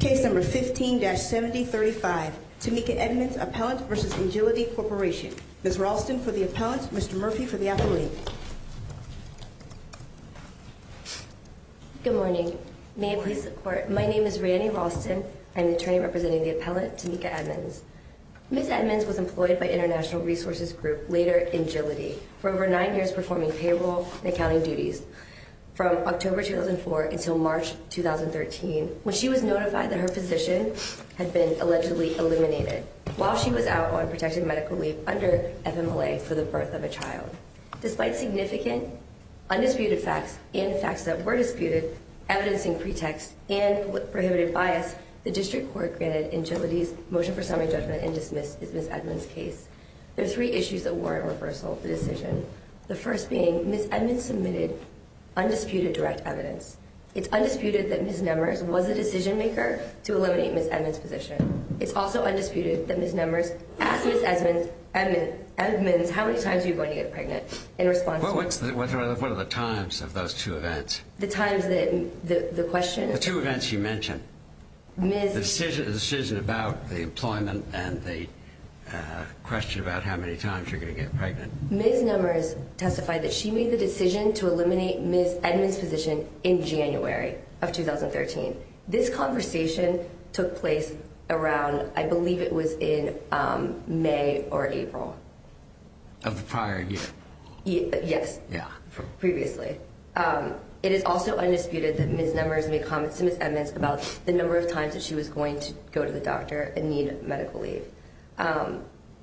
Case number 15-7035, Tamika Edmonds, Appellant v. Engility Corporation. Ms. Ralston for the Appellant, Mr. Murphy for the Appellant. Good morning. May I please support? My name is Rani Ralston. I am the attorney representing the Appellant, Tamika Edmonds. Ms. Edmonds was employed by International Resources Group, later Engility, for over nine years performing payroll and accounting duties. From October 2004 until March 2013, when she was notified that her physician had been allegedly eliminated, while she was out on protected medical leave under FMLA for the birth of a child. Despite significant undisputed facts and facts that were disputed, evidencing pretext and prohibited bias, the District Court granted Engility's motion for summary judgment and dismissed Ms. Edmonds' case. There are three issues that warrant reversal of the decision. The first being, Ms. Edmonds submitted undisputed direct evidence. It's undisputed that Ms. Numbers was the decision maker to eliminate Ms. Edmonds' physician. It's also undisputed that Ms. Numbers asked Ms. Edmonds how many times she was going to get pregnant in response to her. Well, what are the times of those two events? The times that the question... The two events you mentioned. Ms... The decision about the employment and the question about how many times you're going to get pregnant. Ms. Numbers testified that she made the decision to eliminate Ms. Edmonds' physician in January of 2013. This conversation took place around, I believe it was in May or April. Of the prior year. Yes. Yeah. Previously. It is also undisputed that Ms. Numbers made comments to Ms. Edmonds about the number of times that she was going to go to the doctor and need medical leave.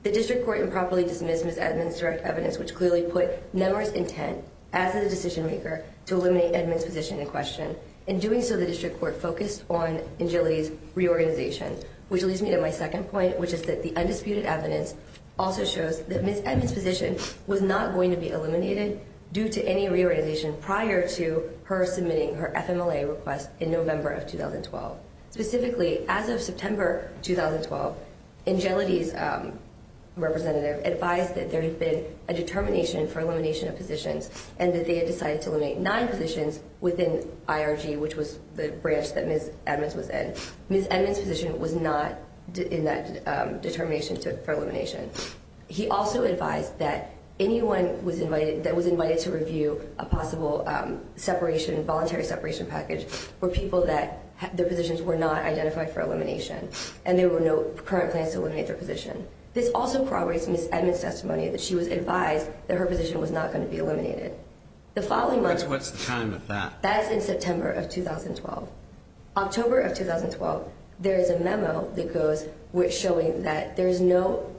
The district court improperly dismissed Ms. Edmonds' direct evidence, which clearly put Numbers' intent as the decision maker to eliminate Edmonds' physician in question. In doing so, the district court focused on Angelie's reorganization. Which leads me to my second point, which is that the undisputed evidence also shows that Ms. Edmonds' physician was not going to be eliminated due to any reorganization prior to her submitting her FMLA request in November of 2012. Specifically, as of September 2012, Angelie's representative advised that there had been a determination for elimination of physicians. And that they had decided to eliminate nine physicians within IRG, which was the branch that Ms. Edmonds was in. Ms. Edmonds' physician was not in that determination for elimination. He also advised that anyone that was invited to review a possible voluntary separation package were people that their positions were not identified for elimination. And there were no current plans to eliminate their position. This also corroborates Ms. Edmonds' testimony that she was advised that her position was not going to be eliminated. What's the time of that? That's in September of 2012. October of 2012, there is a memo that goes showing that there is no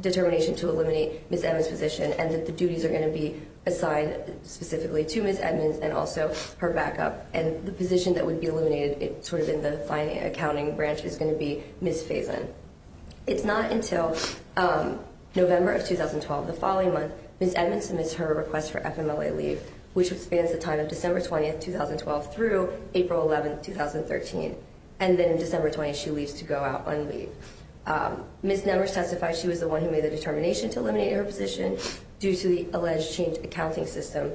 determination to eliminate Ms. Edmonds' physician. And that the duties are going to be assigned specifically to Ms. Edmonds and also her backup. And the physician that would be eliminated sort of in the accounting branch is going to be Ms. Faison. It's not until November of 2012, the following month, Ms. Edmonds submits her request for FMLA leave, which spans the time of December 20th, 2012 through April 11th, 2013. And then December 20th, she leaves to go out on leave. Ms. Edmonds testified she was the one who made the determination to eliminate her position due to the alleged changed accounting system.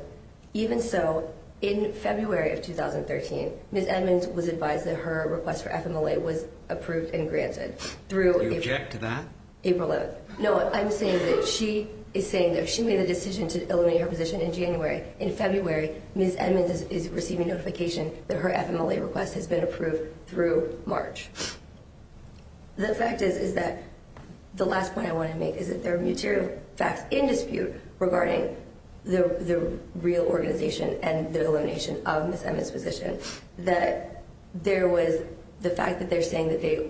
Even so, in February of 2013, Ms. Edmonds was advised that her request for FMLA was approved and granted. Do you object to that? April 11th. No, I'm saying that she is saying that she made the decision to eliminate her position in January. In February, Ms. Edmonds is receiving notification that her FMLA request has been approved through March. The fact is that the last point I want to make is that there are material facts in dispute regarding the real organization and the elimination of Ms. Edmonds' position. That there was the fact that they're saying that they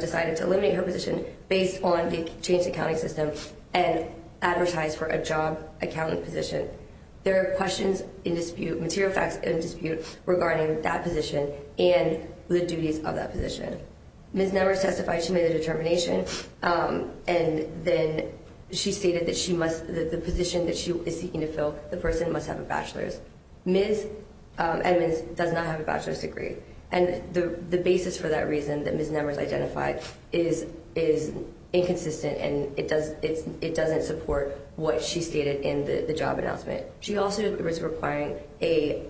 decided to eliminate her position based on the changed accounting system and advertised for a job accountant position. There are questions in dispute, material facts in dispute, regarding that position and the duties of that position. Ms. Edmonds testified she made the determination, and then she stated that the position that she is seeking to fill, the person must have a bachelor's. Ms. Edmonds does not have a bachelor's degree. And the basis for that reason that Ms. Nemers identified is inconsistent and it doesn't support what she stated in the job announcement. She also was requiring a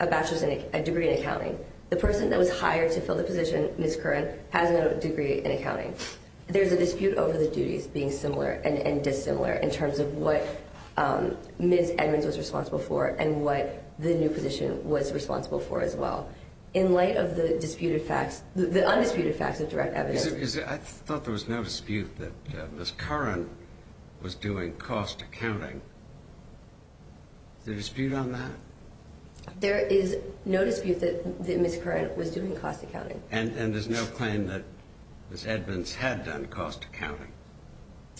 bachelor's degree in accounting. The person that was hired to fill the position, Ms. Curran, has no degree in accounting. There's a dispute over the duties being similar and dissimilar in terms of what Ms. Edmonds was responsible for and what the new position was responsible for as well. In light of the undisputed facts of direct evidence. I thought there was no dispute that Ms. Curran was doing cost accounting. Is there a dispute on that? There is no dispute that Ms. Curran was doing cost accounting. And there's no claim that Ms. Edmonds had done cost accounting?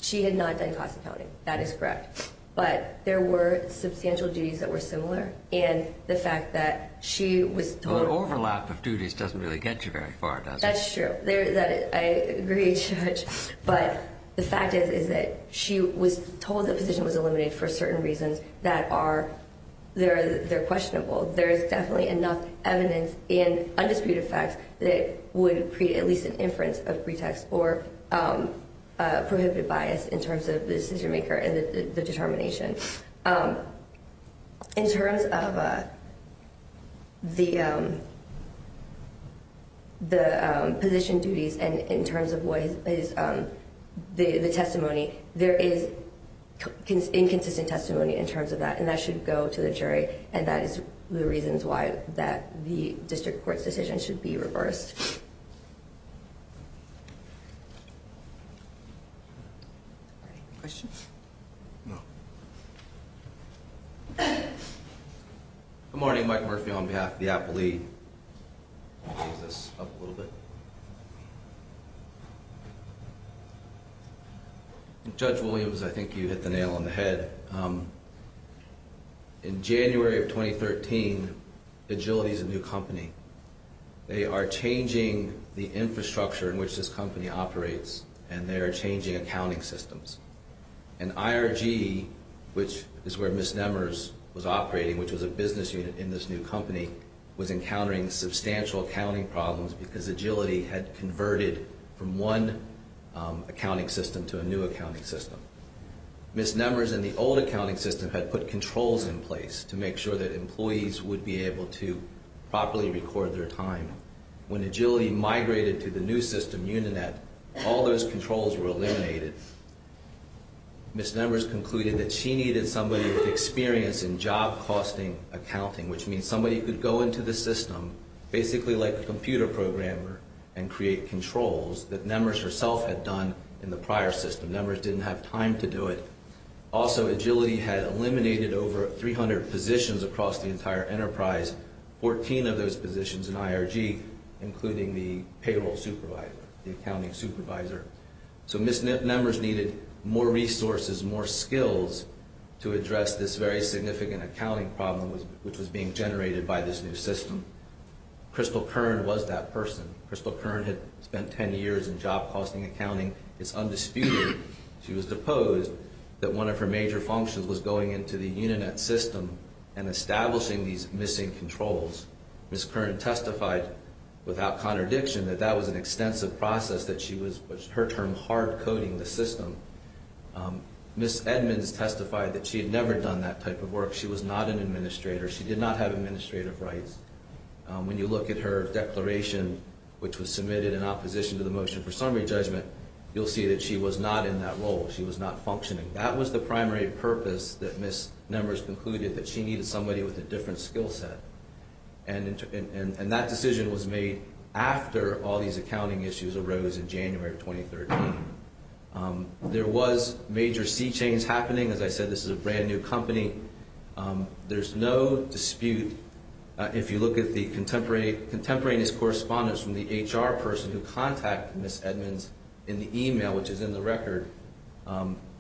She had not done cost accounting. That is correct. But there were substantial duties that were similar. And the fact that she was told. The overlap of duties doesn't really get you very far, does it? That's true. I agree, Judge. But the fact is that she was told the position was eliminated for certain reasons that are questionable. There is definitely enough evidence in undisputed facts that would create at least an inference of pretext or prohibited bias in terms of the decision maker and the determination. In terms of the position duties and in terms of the testimony, there is inconsistent testimony in terms of that. And that should go to the jury. And that is the reasons why the district court's decision should be reversed. Any questions? No. Good morning. Mike Murphy on behalf of the Apple Lead. I'll move this up a little bit. Judge Williams, I think you hit the nail on the head. In January of 2013, Agility is a new company. They are changing the infrastructure in which this company operates, and they are changing accounting systems. And IRG, which is where Ms. Nemers was operating, which was a business unit in this new company, was encountering substantial accounting problems because Agility had converted from one accounting system to a new accounting system. Ms. Nemers, in the old accounting system, had put controls in place to make sure that employees would be able to properly record their time. When Agility migrated to the new system, Uninet, all those controls were eliminated. Ms. Nemers concluded that she needed somebody with experience in job costing accounting, which means somebody who could go into the system, basically like a computer programmer, and create controls that Nemers herself had done in the prior system. Nemers didn't have time to do it. Also, Agility had eliminated over 300 positions across the entire enterprise, 14 of those positions in IRG, including the payroll supervisor, the accounting supervisor. So Ms. Nemers needed more resources, more skills to address this very significant accounting problem which was being generated by this new system. Crystal Kern was that person. Crystal Kern had spent 10 years in job costing accounting. It's undisputed, she was deposed, that one of her major functions was going into the Uninet system and establishing these missing controls. Ms. Kern testified without contradiction that that was an extensive process that she was, her term, hard-coding the system. Ms. Edmonds testified that she had never done that type of work. She was not an administrator. She did not have administrative rights. When you look at her declaration, which was submitted in opposition to the motion for summary judgment, you'll see that she was not in that role. She was not functioning. That was the primary purpose that Ms. Nemers concluded, that she needed somebody with a different skill set. And that decision was made after all these accounting issues arose in January of 2013. There was major sea change happening. As I said, this is a brand new company. There's no dispute. If you look at the contemporaneous correspondence from the HR person who contacted Ms. Edmonds in the email, which is in the record,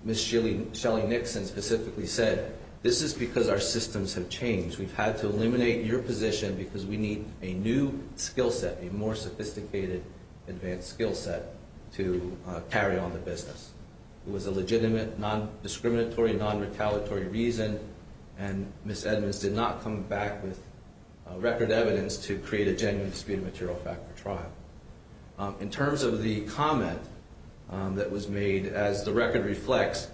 Ms. Shelly Nixon specifically said, this is because our systems have changed. We've had to eliminate your position because we need a new skill set, a more sophisticated advanced skill set to carry on the business. It was a legitimate, non-discriminatory, non-retaliatory reason. And Ms. Edmonds did not come back with record evidence to create a genuine dispute of material fact for trial. In terms of the comment that was made, as the record reflects,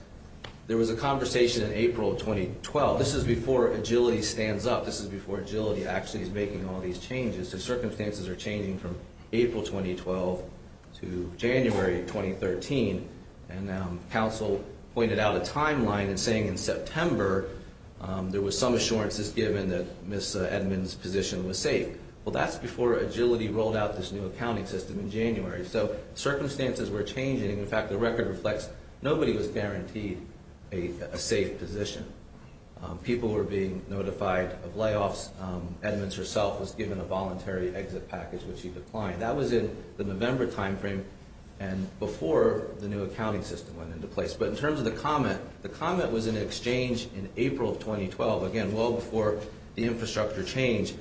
there was a conversation in April of 2012. This is before Agility stands up. This is before Agility actually is making all these changes. The circumstances are changing from April 2012 to January 2013. And counsel pointed out a timeline and saying in September there was some assurances given that Ms. Edmonds' position was safe. Well, that's before Agility rolled out this new accounting system in January. So circumstances were changing. In fact, the record reflects nobody was guaranteed a safe position. People were being notified of layoffs. Ms. Edmonds herself was given a voluntary exit package, which she declined. That was in the November timeframe and before the new accounting system went into place. But in terms of the comment, the comment was in an exchange in April of 2012, again, well before the infrastructure change.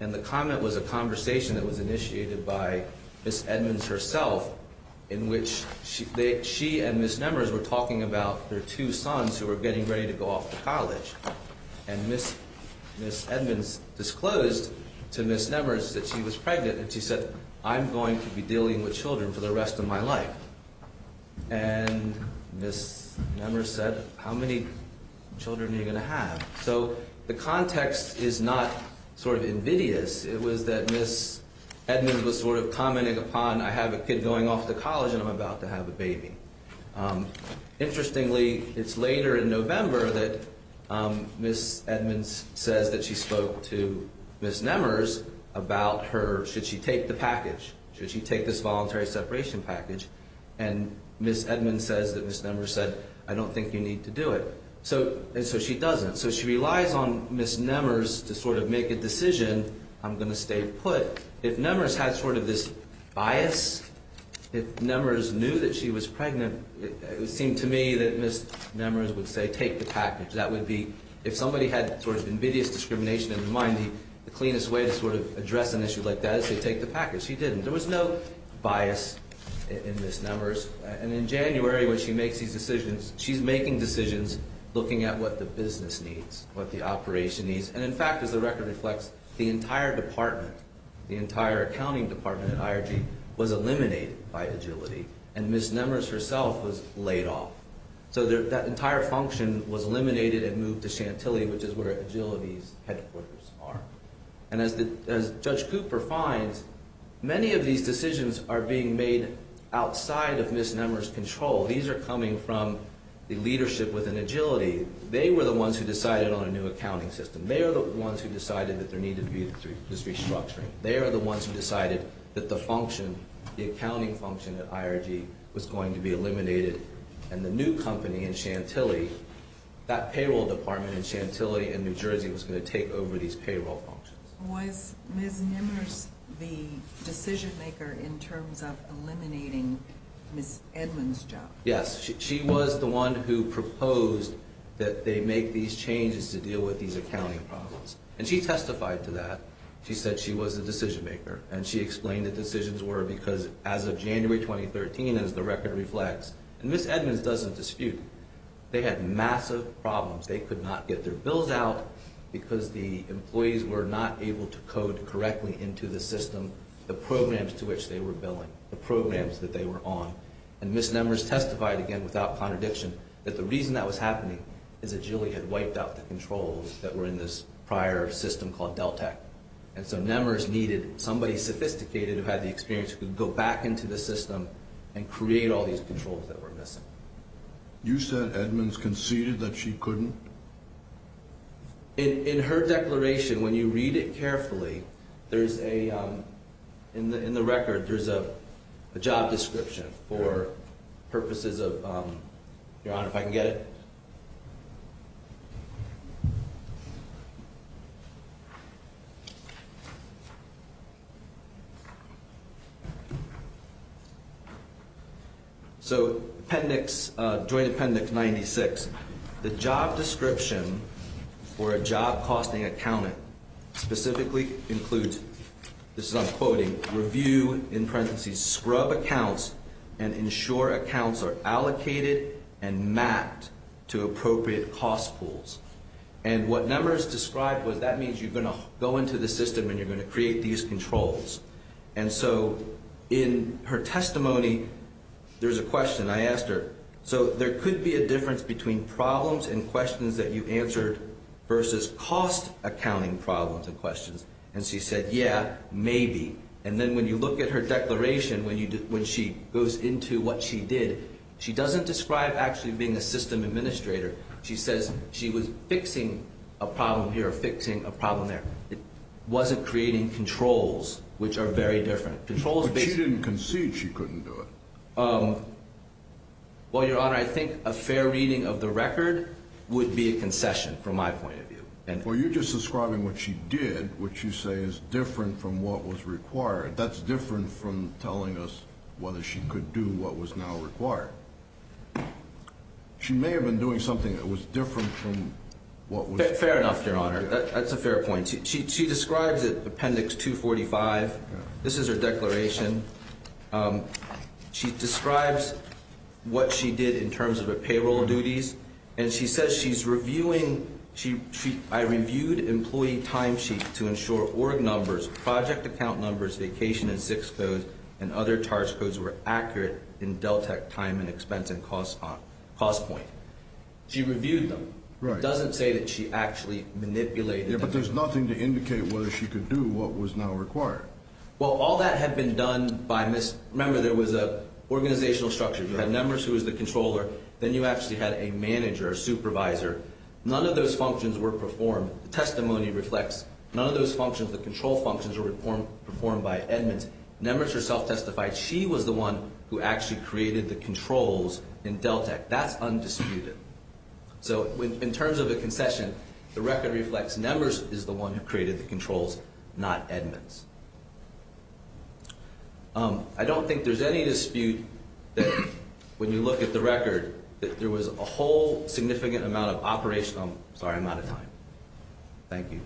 And the comment was a conversation that was initiated by Ms. Edmonds herself in which she and Ms. Nemers were talking about their two sons who were getting ready to go off to college. And Ms. Edmonds disclosed to Ms. Nemers that she was pregnant and she said, I'm going to be dealing with children for the rest of my life. And Ms. Nemers said, how many children are you going to have? So the context is not sort of invidious. It was that Ms. Edmonds was sort of commenting upon, I have a kid going off to college and I'm about to have a baby. Interestingly, it's later in November that Ms. Edmonds says that she spoke to Ms. Nemers about her, should she take the package? Should she take this voluntary separation package? And Ms. Edmonds says that Ms. Nemers said, I don't think you need to do it. And so she doesn't. So she relies on Ms. Nemers to sort of make a decision, I'm going to stay put. But if Nemers had sort of this bias, if Nemers knew that she was pregnant, it would seem to me that Ms. Nemers would say, take the package. That would be, if somebody had sort of invidious discrimination in their mind, the cleanest way to sort of address an issue like that is to take the package. She didn't. There was no bias in Ms. Nemers. And in January when she makes these decisions, she's making decisions looking at what the business needs, what the operation needs. And in fact, as the record reflects, the entire department, the entire accounting department at IRG was eliminated by Agility. And Ms. Nemers herself was laid off. So that entire function was eliminated and moved to Chantilly, which is where Agility's headquarters are. And as Judge Cooper finds, many of these decisions are being made outside of Ms. Nemers' control. These are coming from the leadership within Agility. They were the ones who decided on a new accounting system. They are the ones who decided that there needed to be this restructuring. They are the ones who decided that the function, the accounting function at IRG was going to be eliminated. And the new company in Chantilly, that payroll department in Chantilly and New Jersey was going to take over these payroll functions. Was Ms. Nemers the decision maker in terms of eliminating Ms. Edmunds' job? Yes, she was the one who proposed that they make these changes to deal with these accounting problems. And she testified to that. She said she was the decision maker. And she explained the decisions were because as of January 2013, as the record reflects, and Ms. Edmunds doesn't dispute. They had massive problems. They could not get their bills out because the employees were not able to code correctly into the system, the programs to which they were billing, the programs that they were on. And Ms. Nemers testified again without contradiction that the reason that was happening is that Jilly had wiped out the controls that were in this prior system called Deltek. And so Nemers needed somebody sophisticated who had the experience to go back into the system and create all these controls that were missing. You said Edmunds conceded that she couldn't? In her declaration, when you read it carefully, there's a, in the record, there's a job description for purposes of, Your Honor, if I can get it? So Appendix, Joint Appendix 96. The job description for a job costing accountant specifically includes, this is I'm quoting, review in parentheses scrub accounts and ensure accounts are allocated and mapped to appropriate cost pools. And what Nemers described was that means you're going to go into the system and you're going to create these controls. And so in her testimony, there's a question. I asked her, so there could be a difference between problems and questions that you answered versus cost accounting problems and questions. And she said, yeah, maybe. And then when you look at her declaration, when she goes into what she did, she doesn't describe actually being a system administrator. She says she was fixing a problem here, fixing a problem there. It wasn't creating controls, which are very different. But she didn't concede she couldn't do it. Well, Your Honor, I think a fair reading of the record would be a concession from my point of view. Well, you're just describing what she did, which you say is different from what was required. That's different from telling us whether she could do what was now required. She may have been doing something that was different from what was- Fair enough, Your Honor. That's a fair point. She describes it, Appendix 245. This is her declaration. She describes what she did in terms of her payroll duties. And she says she's reviewing-I reviewed employee timesheets to ensure org numbers, project account numbers, vacation and six codes, and other charge codes were accurate in DelTec time and expense and cost point. She reviewed them. Right. It doesn't say that she actually manipulated them. Yeah, but there's nothing to indicate whether she could do what was now required. Well, all that had been done by-remember, there was an organizational structure. You had members who was the controller. Then you actually had a manager, a supervisor. None of those functions were performed. The testimony reflects none of those functions. The control functions were performed by Edmonds. Members are self-testified. She was the one who actually created the controls in DelTec. That's undisputed. So in terms of a concession, the record reflects members is the one who created the controls, not Edmonds. I don't think there's any dispute that when you look at the record, that there was a whole significant amount of operational-sorry, I'm out of time. Thank you.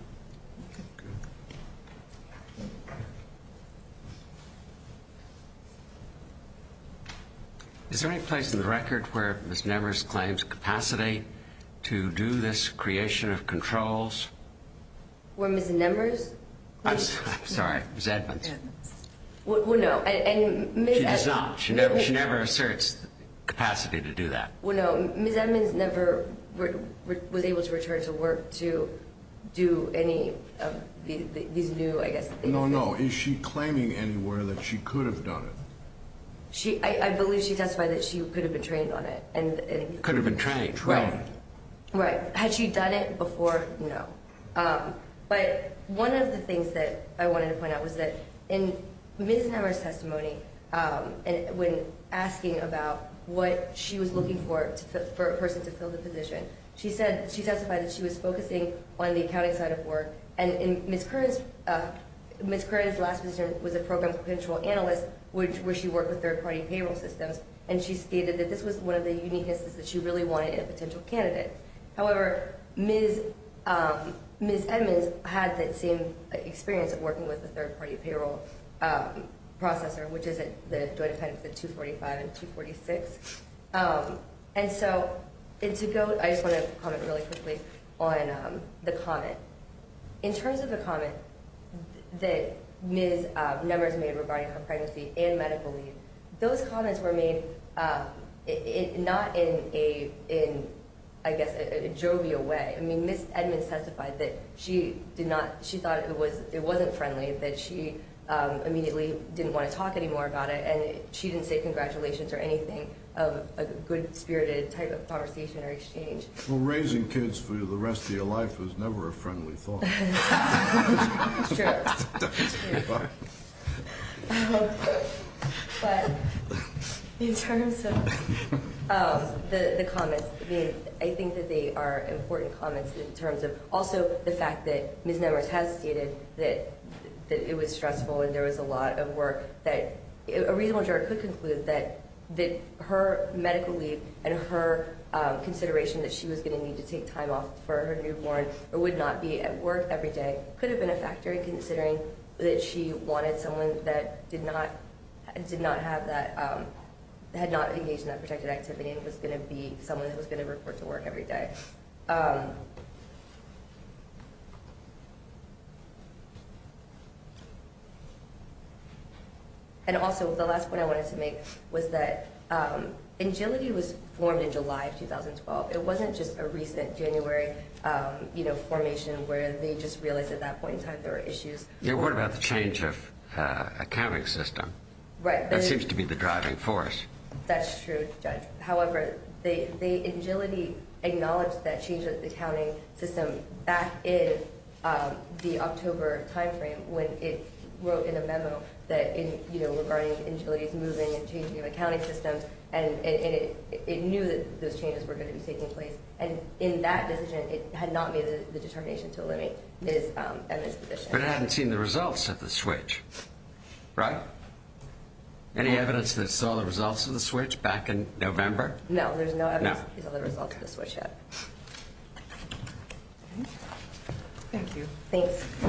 Is there any place in the record where Ms. Nemers claims capacity to do this creation of controls? Where Ms. Nemers? I'm sorry. Ms. Edmonds. Well, no. She does not. She never asserts capacity to do that. Well, no. Ms. Edmonds never was able to return to work to do any of these new, I guess- No, no. Is she claiming anywhere that she could have done it? I believe she testified that she could have been trained on it. Could have been trained. Right. Right. Had she done it before? No. But one of the things that I wanted to point out was that in Ms. Nemers' testimony, when asking about what she was looking for for a person to fill the position, she testified that she was focusing on the accounting side of work, and Ms. Curran's last position was a program potential analyst, where she worked with third-party payroll systems, and she stated that this was one of the unique instances that she really wanted in a potential candidate. However, Ms. Edmonds had the same experience of working with a third-party payroll processor, which is at the Joint Appendix 245 and 246. And so, I just want to comment really quickly on the comment. In terms of the comment that Ms. Nemers made regarding her pregnancy and medical leave, those comments were made not in, I guess, a jovial way. I mean, Ms. Edmonds testified that she thought it wasn't friendly, that she immediately didn't want to talk anymore about it, and she didn't say congratulations or anything of a good-spirited type of conversation or exchange. Raising kids for the rest of your life was never a friendly thought. It's true. But in terms of the comments made, I think that they are important comments in terms of also the fact that Ms. Nemers has stated that it was stressful and there was a lot of work that a reasonable juror could conclude that her medical leave and her consideration that she was going to need to take time off for her newborn or would not be at work every day could have been a factor, considering that she wanted someone that did not have that, had not engaged in that protected activity and was going to be someone that was going to report to work every day. And also, the last point I wanted to make was that ANGILITY was formed in July of 2012. It wasn't just a recent January formation where they just realized at that point in time there were issues. Yeah, what about the change of accounting system? Right. That seems to be the driving force. That's true, Judge. However, ANGILITY acknowledged that change of accounting system back in the October timeframe when it wrote in a memo regarding ANGILITY's moving and changing of accounting systems, and it knew that those changes were going to be taking place. And in that decision, it had not made the determination to eliminate its position. But it hadn't seen the results of the switch. Right? Any evidence that saw the results of the switch back in November? No, there's no evidence that saw the results of the switch yet. Thank you. Thanks.